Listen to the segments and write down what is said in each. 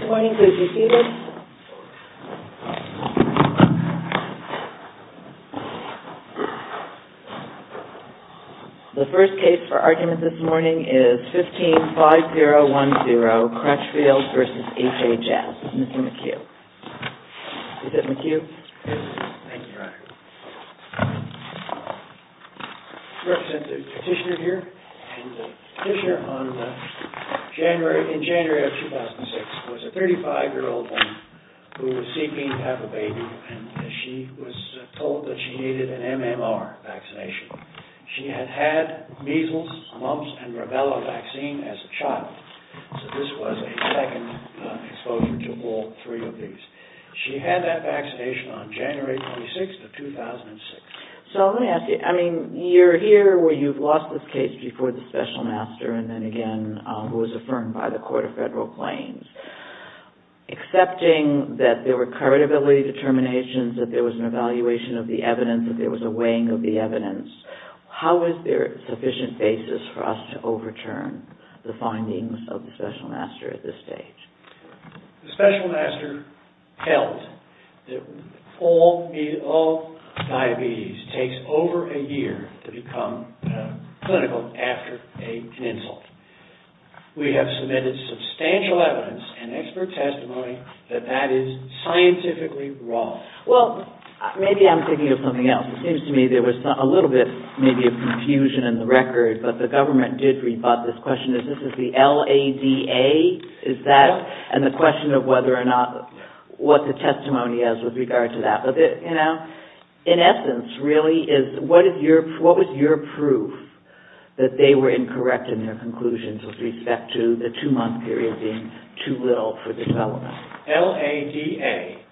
Good morning, could you see this? The first case for argument this morning is 15-5010, Crutchfield v. HHS, Mr. McHugh. Mr. McHugh, thank you for having me. I represent the petitioner here, and the petitioner in January of 2006 was a 35-year-old woman who was seeking to have a baby, and she was told that she needed an MMR vaccination. She had had measles, mumps, and rubella vaccine as a child, so this was a second exposure to all three of these. She had that vaccination on January 26th of 2006. So let me ask you, I mean, you're here where you've lost this case before the special master, and then again, who was affirmed by the Court of Federal Claims. Accepting that there were credibility determinations, that there was an evaluation of the evidence, that there was a weighing of the evidence, how is there sufficient basis for us to overturn the findings of the special master at this stage? The special master held that all diabetes takes over a year to become clinical after an insult. We have submitted substantial evidence and expert testimony that that is scientifically wrong. Well, maybe I'm thinking of something else. It seems to me there was a little bit, maybe, of confusion in the record, but the government did rebut this question. Is this the LADA? Is that, and the question of whether or not, what the testimony is with regard to that. In essence, really, what was your proof that they were incorrect in their conclusions with respect to the two-month period being too little for the development? LADA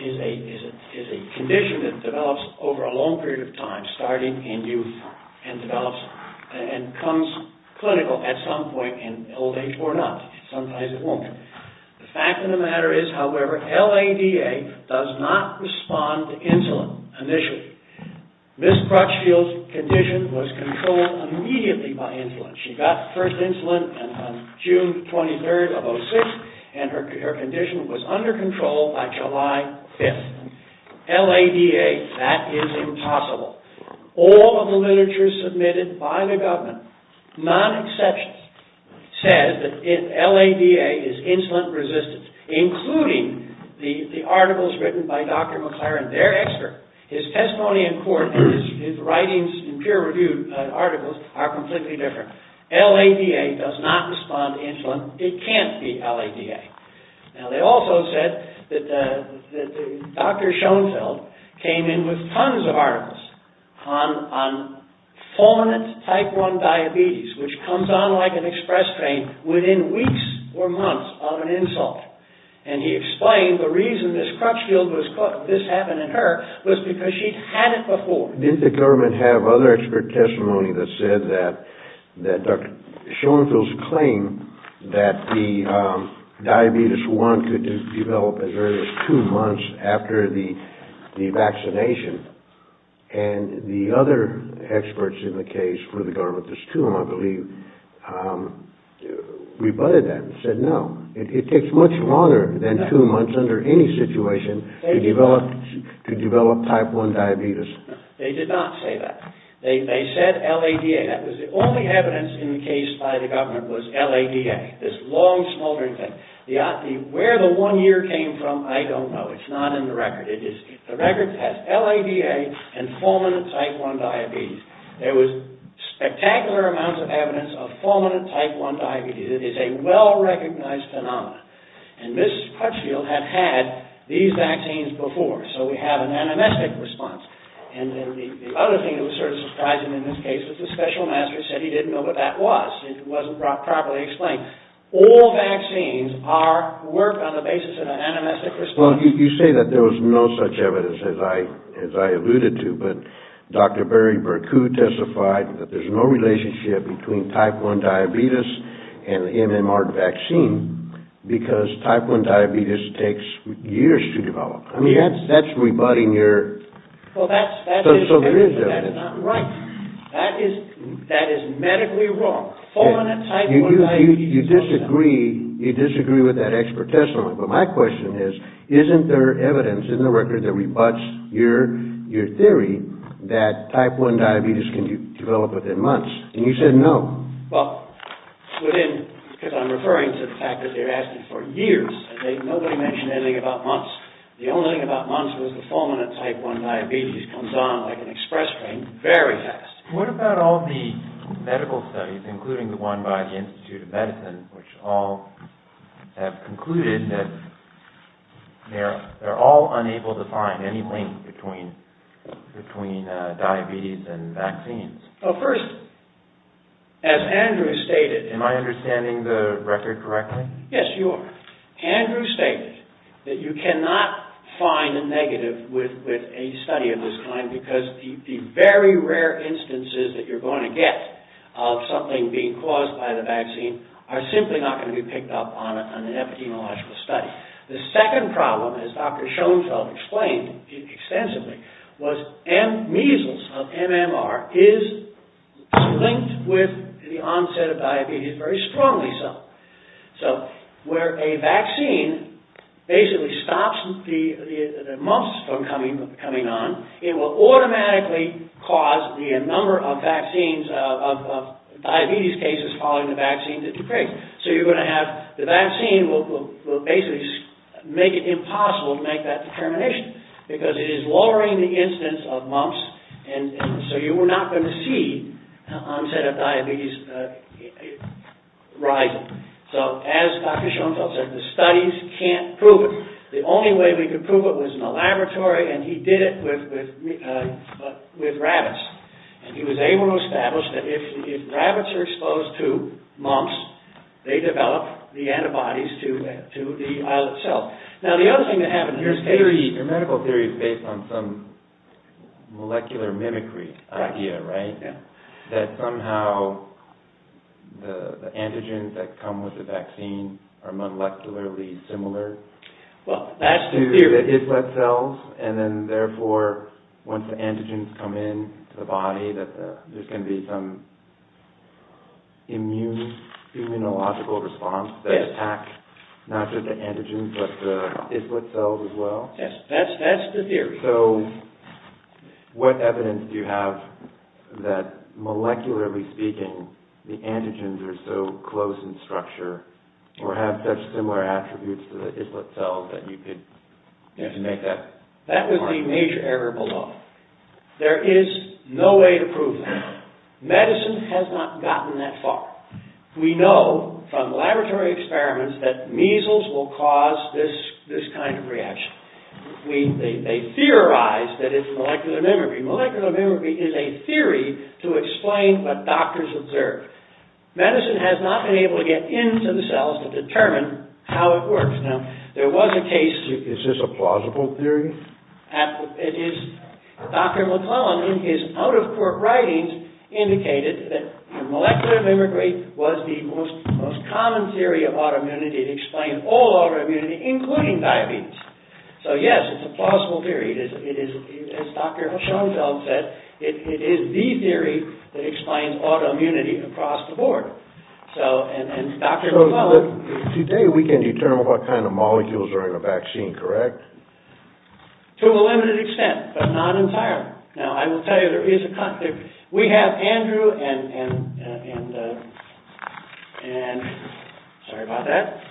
is a condition that develops over a long period of time, starting in youth, and develops and comes clinical at some point in old age or not. Sometimes it won't. The fact of the matter is, however, LADA does not respond to insulin initially. Ms. Crutchfield's condition was controlled immediately by insulin. She got first insulin on June 23rd of 2006, and her condition was under control by July 5th. LADA, that is impossible. All of the literature submitted by the government, non-exceptions, says that LADA is insulin-resistant, including the articles written by Dr. McLaren, their expert. His testimony in court and his writings in peer-reviewed articles are completely different. LADA does not respond to insulin. It can't be LADA. Now, they also said that Dr. Schoenfeld came in with tons of articles on fulminant type 1 diabetes, which comes on like an express train within weeks or months of an insult. And he explained the reason this happened in her was because she'd had it before. Didn't the government have other expert testimony that said that Dr. Schoenfeld's claim that the diabetes 1 could develop as early as two months after the vaccination, and the other experts in the case for the government, there's two of them I believe, rebutted that and said no. It takes much longer than two months under any situation to develop type 1 diabetes. They did not say that. They said LADA. The only evidence in the case by the government was LADA, this long smoldering thing. Where the one year came from, I don't know. It's not in the record. The record says LADA and fulminant type 1 diabetes. There was spectacular amounts of evidence of fulminant type 1 diabetes. It is a well-recognized phenomenon. And Mrs. Crutchfield had had these vaccines before, so we have an animistic response. And the other thing that was sort of surprising in this case was the special master said he didn't know what that was. It wasn't properly explained. All vaccines are, work on the basis of an animistic response. You say that there was no such evidence as I alluded to. But Dr. Barry Berkut testified that there's no relationship between type 1 diabetes and the MMR vaccine. Because type 1 diabetes takes years to develop. That's rebutting your, so there is evidence. That is medically wrong. Fulminant type 1 diabetes. You disagree with that expert testimony. But my question is, isn't there evidence in the record that rebuts your theory that type 1 diabetes can develop within months? And you said no. Well, within, because I'm referring to the fact that they're asking for years. Nobody mentioned anything about months. The only thing about months was the fulminant type 1 diabetes comes on like an express train very fast. What about all the medical studies, including the one by the Institute of Medicine, which all have concluded that they're all unable to find any link between diabetes and vaccines? Well, first, as Andrew stated. Am I understanding the record correctly? Yes, you are. Andrew stated that you cannot find a negative with a study of this kind, because the very rare instances that you're going to get of something being caused by the vaccine are simply not going to be picked up on an epidemiological study. The second problem, as Dr. Schoenfeld explained extensively, was measles, of MMR, is linked with the onset of diabetes, very strongly so. So, where a vaccine basically stops the mumps from coming on, it will automatically cause the number of diabetes cases following the vaccine to decrease. So you're going to have, the vaccine will basically make it impossible to make that determination, because it is lowering the incidence of mumps, so you're not going to see the onset of diabetes rising. So, as Dr. Schoenfeld said, the studies can't prove it. The only way we could prove it was in a laboratory, and he did it with rabbits. He was able to establish that if rabbits are exposed to mumps, they develop the antibodies to the islet cell. Now, the other thing that happens, your medical theory is based on some molecular mimicry idea, right? That somehow the antigens that come with the vaccine are molecularly similar to the islet cells, and then therefore, once the antigens come into the body, there's going to be some immunological response that attacks not just the antigens, but the islet cells as well? Yes, that's the theory. So, what evidence do you have that, molecularly speaking, the antigens are so close in structure, or have such similar attributes to the islet cells that you could make that... That would be major error below. There is no way to prove that. Medicine has not gotten that far. We know from laboratory experiments that measles will cause this kind of reaction. They theorize that it's molecular mimicry. Molecular mimicry is a theory to explain what doctors observe. Medicine has not been able to get into the cells to determine how it works. Is this a plausible theory? It is. Dr. McClellan, in his out-of-court writings, indicated that molecular mimicry was the most common theory of autoimmunity. It explained all autoimmunity, including diabetes. So, yes, it's a plausible theory. As Dr. Schoenfeld said, it is the theory that explains autoimmunity across the board. Today, we can determine what kind of molecules are in a vaccine, correct? To a limited extent, but not entirely. Now, I will tell you, there is a... We have Andrew and... Sorry about that.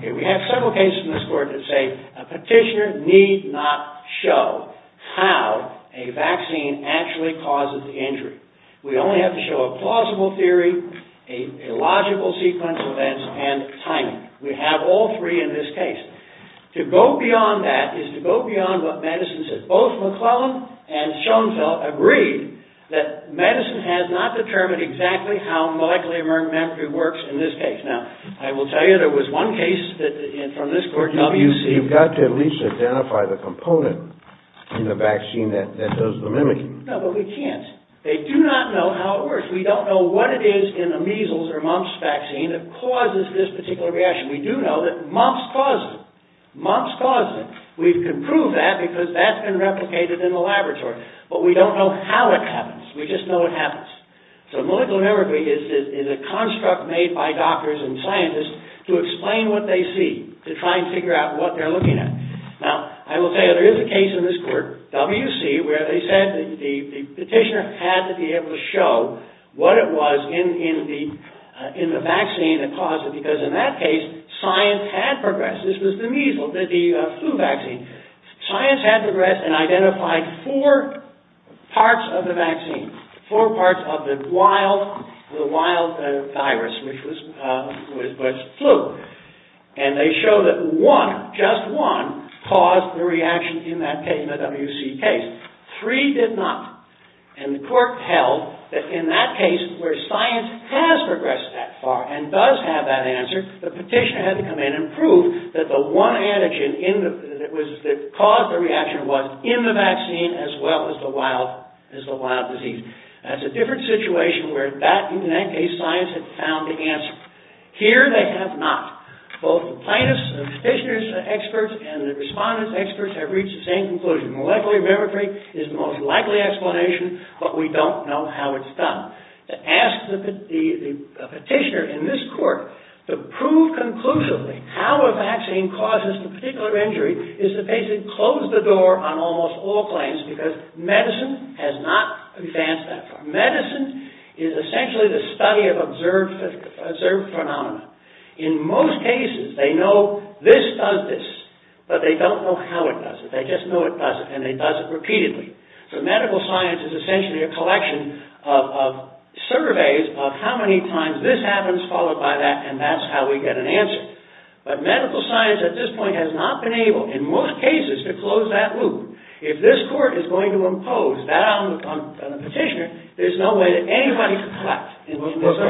We have several cases in this court that say a petitioner need not show how a vaccine actually causes the injury. We only have to show a plausible theory, a logical sequence of events, and timing. We have all three in this case. To go beyond that is to go beyond what medicine says. Both McClellan and Schoenfeld agreed that medicine has not determined exactly how molecular mimicry works in this case. Now, I will tell you, there was one case from this court... You've got to at least identify the component in the vaccine that does the mimicry. No, but we can't. They do not know how it works. We don't know what it is in a measles or mumps vaccine that causes this particular reaction. We do know that mumps cause it. Mumps cause it. We can prove that because that's been replicated in the laboratory. But we don't know how it happens. We just know it happens. So, molecular mimicry is a construct made by doctors and scientists to explain what they see, to try and figure out what they're looking at. Now, I will tell you, there is a case in this court, W.C., where they said the petitioner had to be able to show what it was in the vaccine that caused it, because in that case, science had progressed. This was the measles, the flu vaccine. Science had progressed and identified four parts of the vaccine, four parts of the wild virus, which was flu. And they showed that one, just one, caused the reaction in that W.C. case. Three did not. And the court held that in that case, where science has progressed that far and does have that answer, the petitioner had to come in and prove that the one antigen that caused the reaction was in the vaccine as well as the wild disease. That's a different situation where in that case, science had found the answer. Here, they have not. Both the plaintiff's and the petitioner's experts and the respondent's experts have reached the same conclusion. Molecular mimicry is the most likely explanation, but we don't know how it's done. To ask the petitioner in this court to prove conclusively how a vaccine causes the particular injury is to basically close the door on almost all claims, because medicine has not advanced that far. Medicine is essentially the study of observed phenomena. In most cases, they know this does this, but they don't know how it does it. They just know it does it, and it does it repeatedly. So medical science is essentially a collection of surveys of how many times this happens followed by that, and that's how we get an answer. But medical science at this point has not been able, in most cases, to close that loop. If this court is going to impose that on the petitioner, there's no way that anybody could collapse.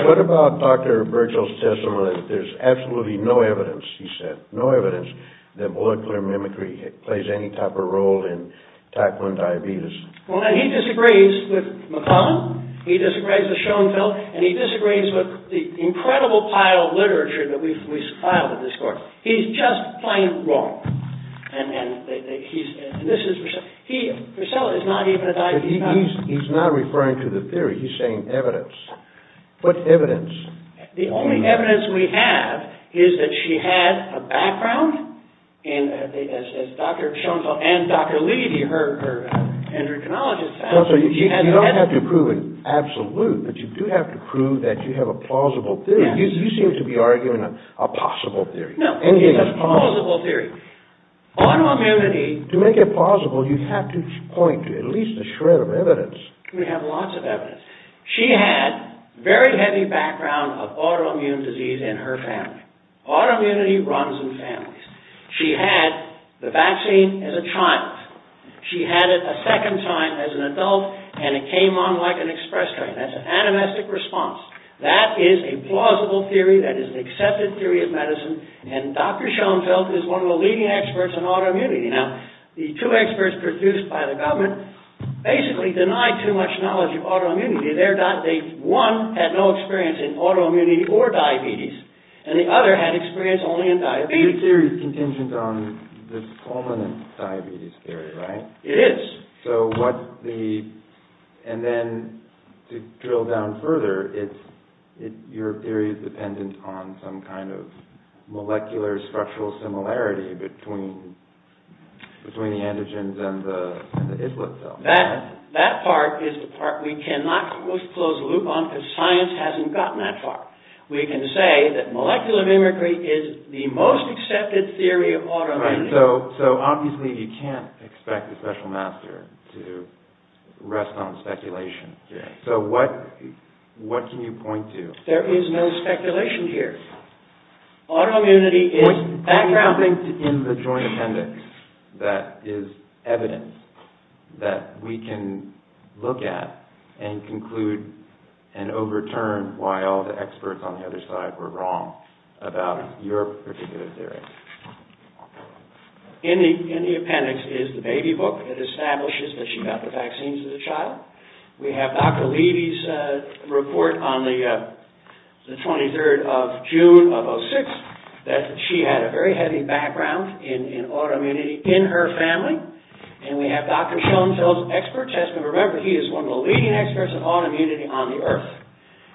What about Dr. Birchall's testimony that there's absolutely no evidence, he said, no evidence that molecular mimicry plays any type of role in tackling diabetes? Well, he disagrees with McClellan, he disagrees with Schoenfeld, and he disagrees with the incredible pile of literature that we've filed at this court. He's just plain wrong. And this is, Priscilla is not even a diabetic. He's not referring to the theory, he's saying evidence. What evidence? The only evidence we have is that she had a background, as Dr. Schoenfeld and Dr. Levy, her endocrinologist, found. You don't have to prove an absolute, but you do have to prove that you have a plausible theory. You seem to be arguing a possible theory. No, it's a plausible theory. Autoimmunity... To make it plausible, you have to point to at least a shred of evidence. We have lots of evidence. She had a very heavy background of autoimmune disease in her family. Autoimmunity runs in families. She had the vaccine as a child. She had it a second time as an adult, and it came on like an express train. That's an animistic response. That is a plausible theory. That is an accepted theory of medicine. And Dr. Schoenfeld is one of the leading experts on autoimmunity. Now, the two experts produced by the government basically denied too much knowledge of autoimmunity. One had no experience in autoimmunity or diabetes, and the other had experience only in diabetes. Your theory is contingent on this fulminant diabetes theory, right? It is. And then, to drill down further, your theory is dependent on some kind of molecular structural similarity between the androgens and the islet cells. That part is the part we cannot close the loop on because science hasn't gotten that far. We can say that molecular mimicry is the most accepted theory of autoimmunity. So, obviously, you can't expect a special master to rest on speculation. So, what can you point to? There is no speculation here. Autoimmunity is background. Is there something in the joint appendix that is evidence that we can look at and conclude and overturn why all the experts on the other side were wrong about your particular theory? In the appendix is the baby book that establishes that she got the vaccines as a child. We have Dr. Levy's report on the 23rd of June of 2006 that she had a very heavy background in autoimmunity in her family. And we have Dr. Schoenfeld's expert testament. Remember, he is one of the leading experts on autoimmunity on the earth.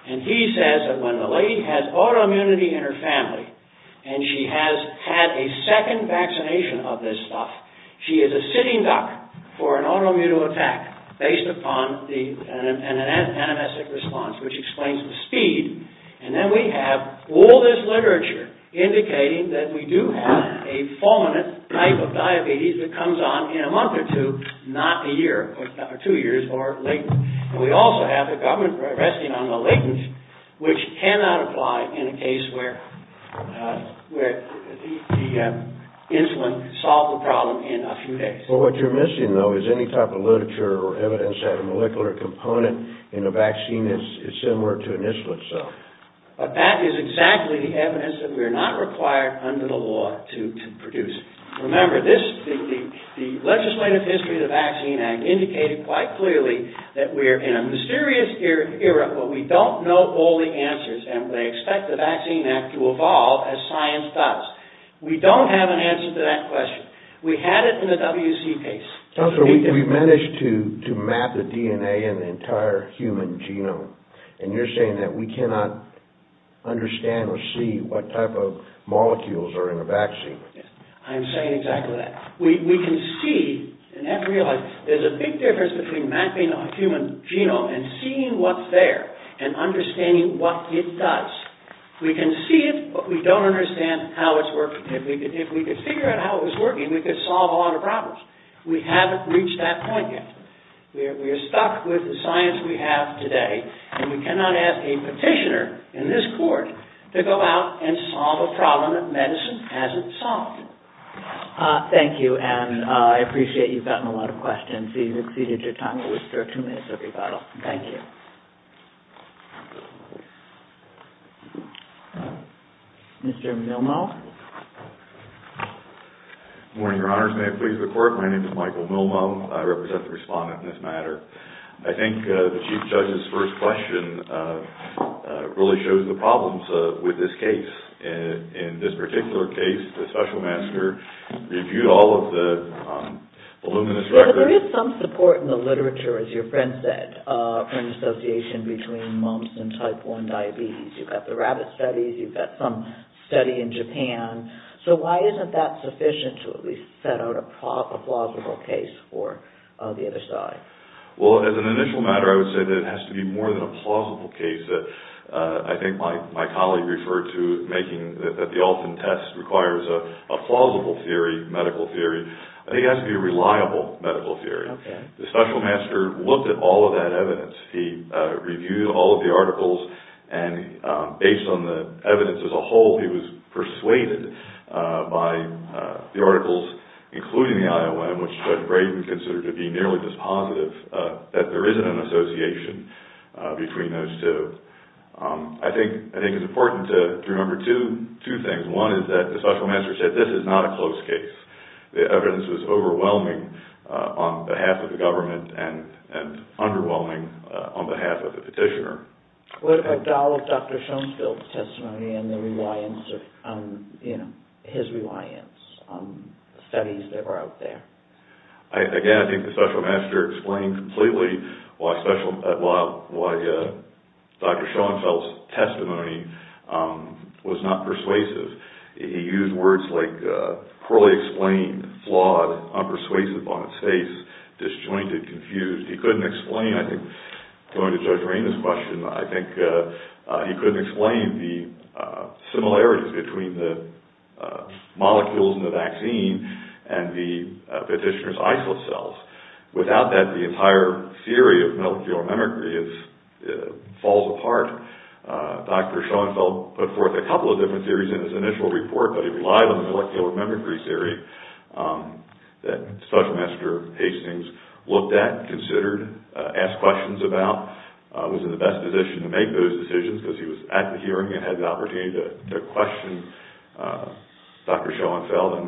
And he says that when the lady has autoimmunity in her family and she has had a second vaccination of this stuff, she is a sitting duck for an autoimmune attack based upon an animistic response, which explains the speed. And then we have all this literature indicating that we do have a fulminant type of diabetes that comes on in a month or two, not a year or two years or latent. And we also have the government resting on the latent, which cannot apply in a case where the insulin solved the problem in a few days. Well, what you're missing, though, is any type of literature or evidence that a molecular component in a vaccine is similar to an insulin cell. But that is exactly the evidence that we are not required under the law to produce. Remember, the legislative history of the Vaccine Act indicated quite clearly that we are in a mysterious era where we don't know all the answers and we expect the Vaccine Act to evolve as science does. We don't have an answer to that question. We had it in the WC case. We've managed to map the DNA in the entire human genome. And you're saying that we cannot understand or see what type of molecules are in a vaccine. I'm saying exactly that. We can see and have realized there's a big difference between mapping a human genome and seeing what's there and understanding what it does. We can see it, but we don't understand how it's working. If we could figure out how it was working, we could solve a lot of problems. We haven't reached that point yet. We are stuck with the science we have today. And we cannot ask a petitioner in this court to go out and solve a problem that medicine hasn't solved. Thank you, Anne. I appreciate you've gotten a lot of questions. You've exceeded your time. I wish there were two minutes of rebuttal. Thank you. Mr. Milmo. Good morning, Your Honors. May it please the Court. My name is Michael Milmo. I represent the respondent in this matter. I think the Chief Judge's first question really shows the problems with this case. In this particular case, the Special Master reviewed all of the voluminous records. There is some support in the literature, as your friend said, for an association between mumps and type 1 diabetes. You've got the rabbit studies. You've got some study in Japan. So why isn't that sufficient to at least set out a plausible case for the other side? Well, as an initial matter, I would say that it has to be more than a plausible case. I think my colleague referred to making the Alton test requires a plausible medical theory. I think it has to be a reliable medical theory. The Special Master looked at all of that evidence. He reviewed all of the articles, and based on the evidence as a whole, he was persuaded by the articles, including the IOM, which Judge Brayden considered to be nearly dispositive, that there isn't an association between those two. I think it's important to remember two things. One is that the Special Master said this is not a close case. The evidence was overwhelming on behalf of the government and underwhelming on behalf of the petitioner. What about Dr. Schoenfeld's testimony and his reliance on studies that were out there? Again, I think the Special Master explained completely why Dr. Schoenfeld's testimony was not persuasive. He used words like poorly explained, flawed, unpersuasive on its face, disjointed, confused. He couldn't explain, I think, going to Judge Rayne's question, I think he couldn't explain the similarities between the molecules in the vaccine and the petitioner's isocells. Without that, the entire theory of molecular mimicry falls apart. Dr. Schoenfeld put forth a couple of different theories in his initial report, but he relied on the molecular mimicry theory that Special Master Hastings looked at, considered, asked questions about, was in the best position to make those decisions because he was at the hearing and had the opportunity to question Dr. Schoenfeld and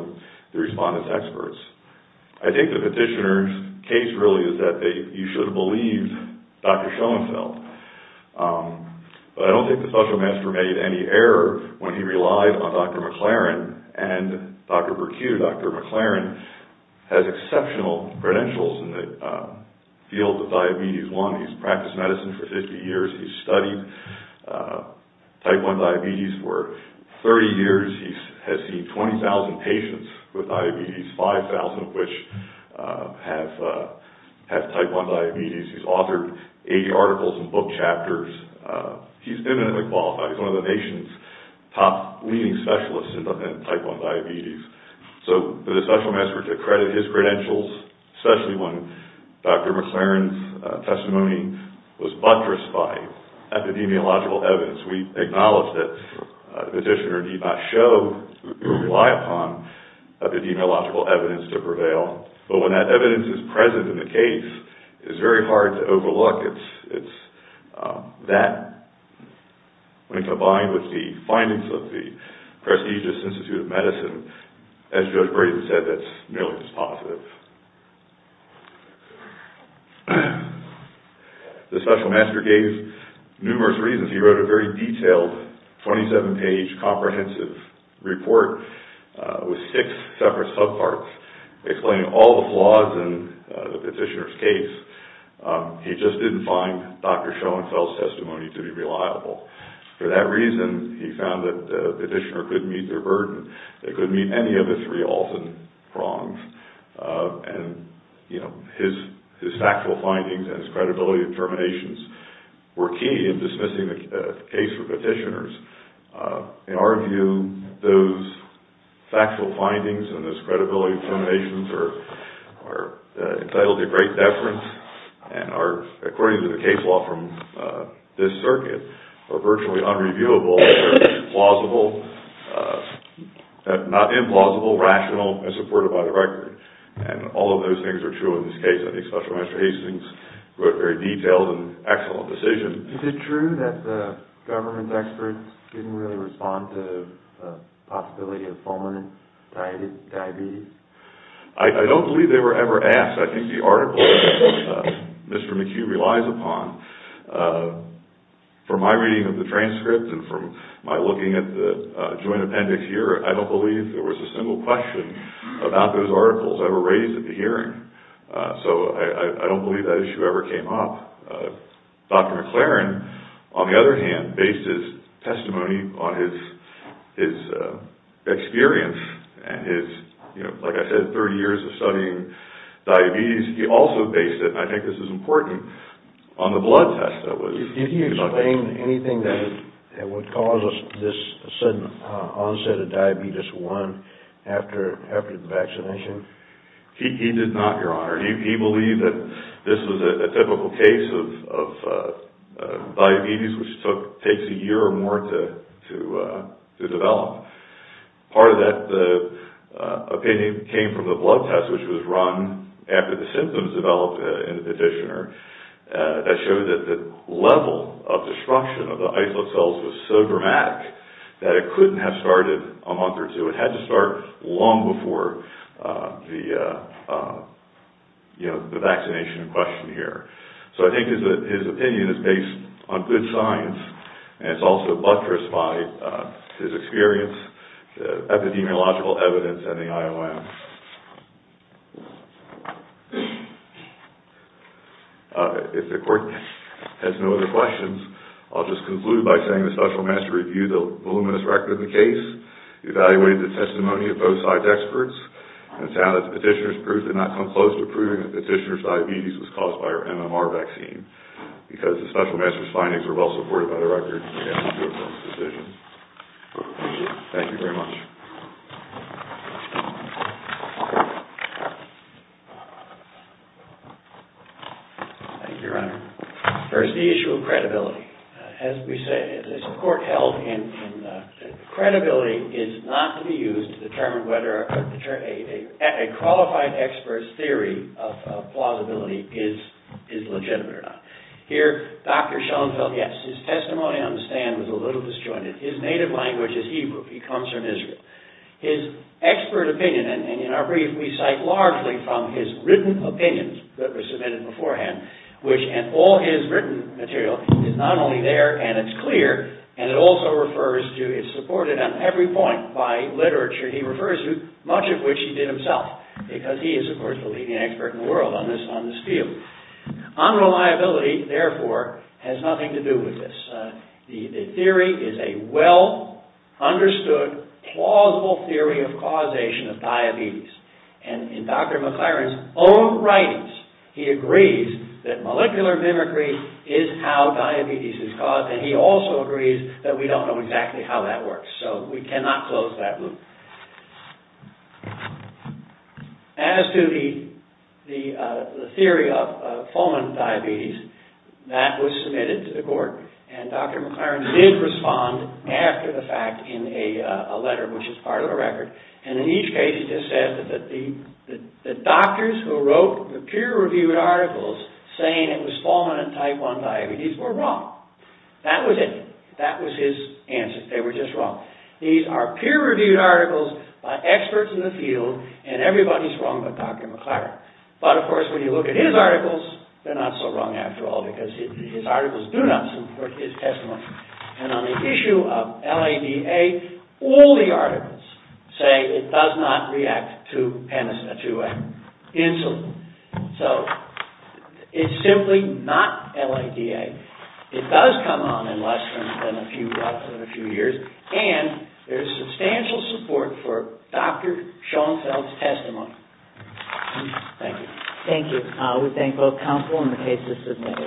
the respondents' experts. I think the petitioner's case really is that you should have believed Dr. Schoenfeld. But I don't think the Special Master made any error when he relied on Dr. McLaren and Dr. Burkitt or Dr. McLaren has exceptional credentials in the field of diabetes. One, he's practiced medicine for 50 years. He's studied type 1 diabetes for 30 years. He has seen 20,000 patients with diabetes, 5,000 of which have type 1 diabetes. He's authored 80 articles and book chapters. He's eminently qualified. He's one of the nation's top leading specialists in type 1 diabetes. So for the Special Master to credit his credentials, especially when Dr. McLaren's testimony was buttressed by epidemiological evidence, we acknowledge that the petitioner did not show or rely upon epidemiological evidence to prevail. But when that evidence is present in the case, it's very hard to overlook. It's that, when combined with the findings of the prestigious Institute of Medicine, as Judge Brayden said, that's nearly dispositive. The Special Master gave numerous reasons. He wrote a very detailed 27-page comprehensive report with six separate subparts explaining all the flaws in the petitioner's case. He just didn't find Dr. Schoenfeld's testimony to be reliable. For that reason, he found that the petitioner couldn't meet their burden. They couldn't meet any of the three Alton prongs. His factual findings and his credibility determinations were key in dismissing the case for petitioners. In our view, those factual findings and those credibility determinations are entitled to great deference and are, according to the case law from this circuit, are virtually unreviewable, plausible, not implausible, rational, and supported by the record. And all of those things are true in this case. I think Special Master Hastings wrote a very detailed and excellent decision. Is it true that the government experts didn't really respond to the possibility of fulminant diabetes? I don't believe they were ever asked. I think the article that Mr. McHugh relies upon, from my reading of the transcript and from my looking at the joint appendix here, I don't believe there was a single question about those articles ever raised at the hearing. So I don't believe that issue ever came up. Dr. McLaren, on the other hand, based his testimony on his experience and his, like I said, 30 years of studying diabetes. He also based it, and I think this is important, on the blood test that was conducted. Did he explain anything that would cause this sudden onset of diabetes 1 after the vaccination? He did not, Your Honor. He believed that this was a typical case of diabetes, which takes a year or more to develop. Part of that opinion came from the blood test, which was run after the symptoms developed in the petitioner. That showed that the level of destruction of the islet cells was so dramatic that it couldn't have started a month or two. It had to start long before the vaccination in question here. So I think his opinion is based on good science, and it's also buttressed by his experience, epidemiological evidence, and the IOM. If the Court has no other questions, I'll just conclude by saying that the Special Master reviewed the voluminous record of the case, evaluated the testimony of both side's experts, and found that the petitioner's proof did not come close to proving that the petitioner's diabetes was caused by our MMR vaccine, because the Special Master's findings were well supported by the record, and we have to approve those decisions. Thank you very much. Thank you, Your Honor. First, the issue of credibility. As the Court held, credibility is not to be used to determine whether a qualified expert's theory of plausibility is legitimate or not. Here, Dr. Schoenfeld, yes, his testimony on the stand was a little disjointed. His native language is Hebrew. He comes from Israel. His expert opinion, and in our brief, we cite largely from his written opinions that were submitted beforehand, which, and all his written material is not only there and it's clear, and it also refers to, it's supported on every point by literature he refers to, much of which he did himself, because he is, of course, the leading expert in the world on this field. Unreliability, therefore, has nothing to do with this. The theory is a well-understood, plausible theory of causation of diabetes, and in Dr. McLaren's own writings, he agrees that molecular mimicry is how diabetes is caused, and he also agrees that we don't know exactly how that works, so we cannot close that loop. As to the theory of fulminant diabetes, that was submitted to the court, and Dr. McLaren did respond after the fact in a letter, which is part of a record, and in each case he just said that the doctors who wrote the peer-reviewed articles saying it was fulminant type 1 diabetes were wrong. That was it. That was his answer. They were just wrong. These are peer-reviewed articles by experts in the field, and everybody's wrong but Dr. McLaren. But, of course, when you look at his articles, they're not so wrong after all, because his articles do not support his testimony, and on the issue of LADA, all the articles say it does not react to NSA2A insulin. So, it's simply not LADA. It does come on in less than a few years, and there's substantial support for Dr. Schoenfeld's testimony. Thank you. Thank you. We thank both counsel and the case assistants.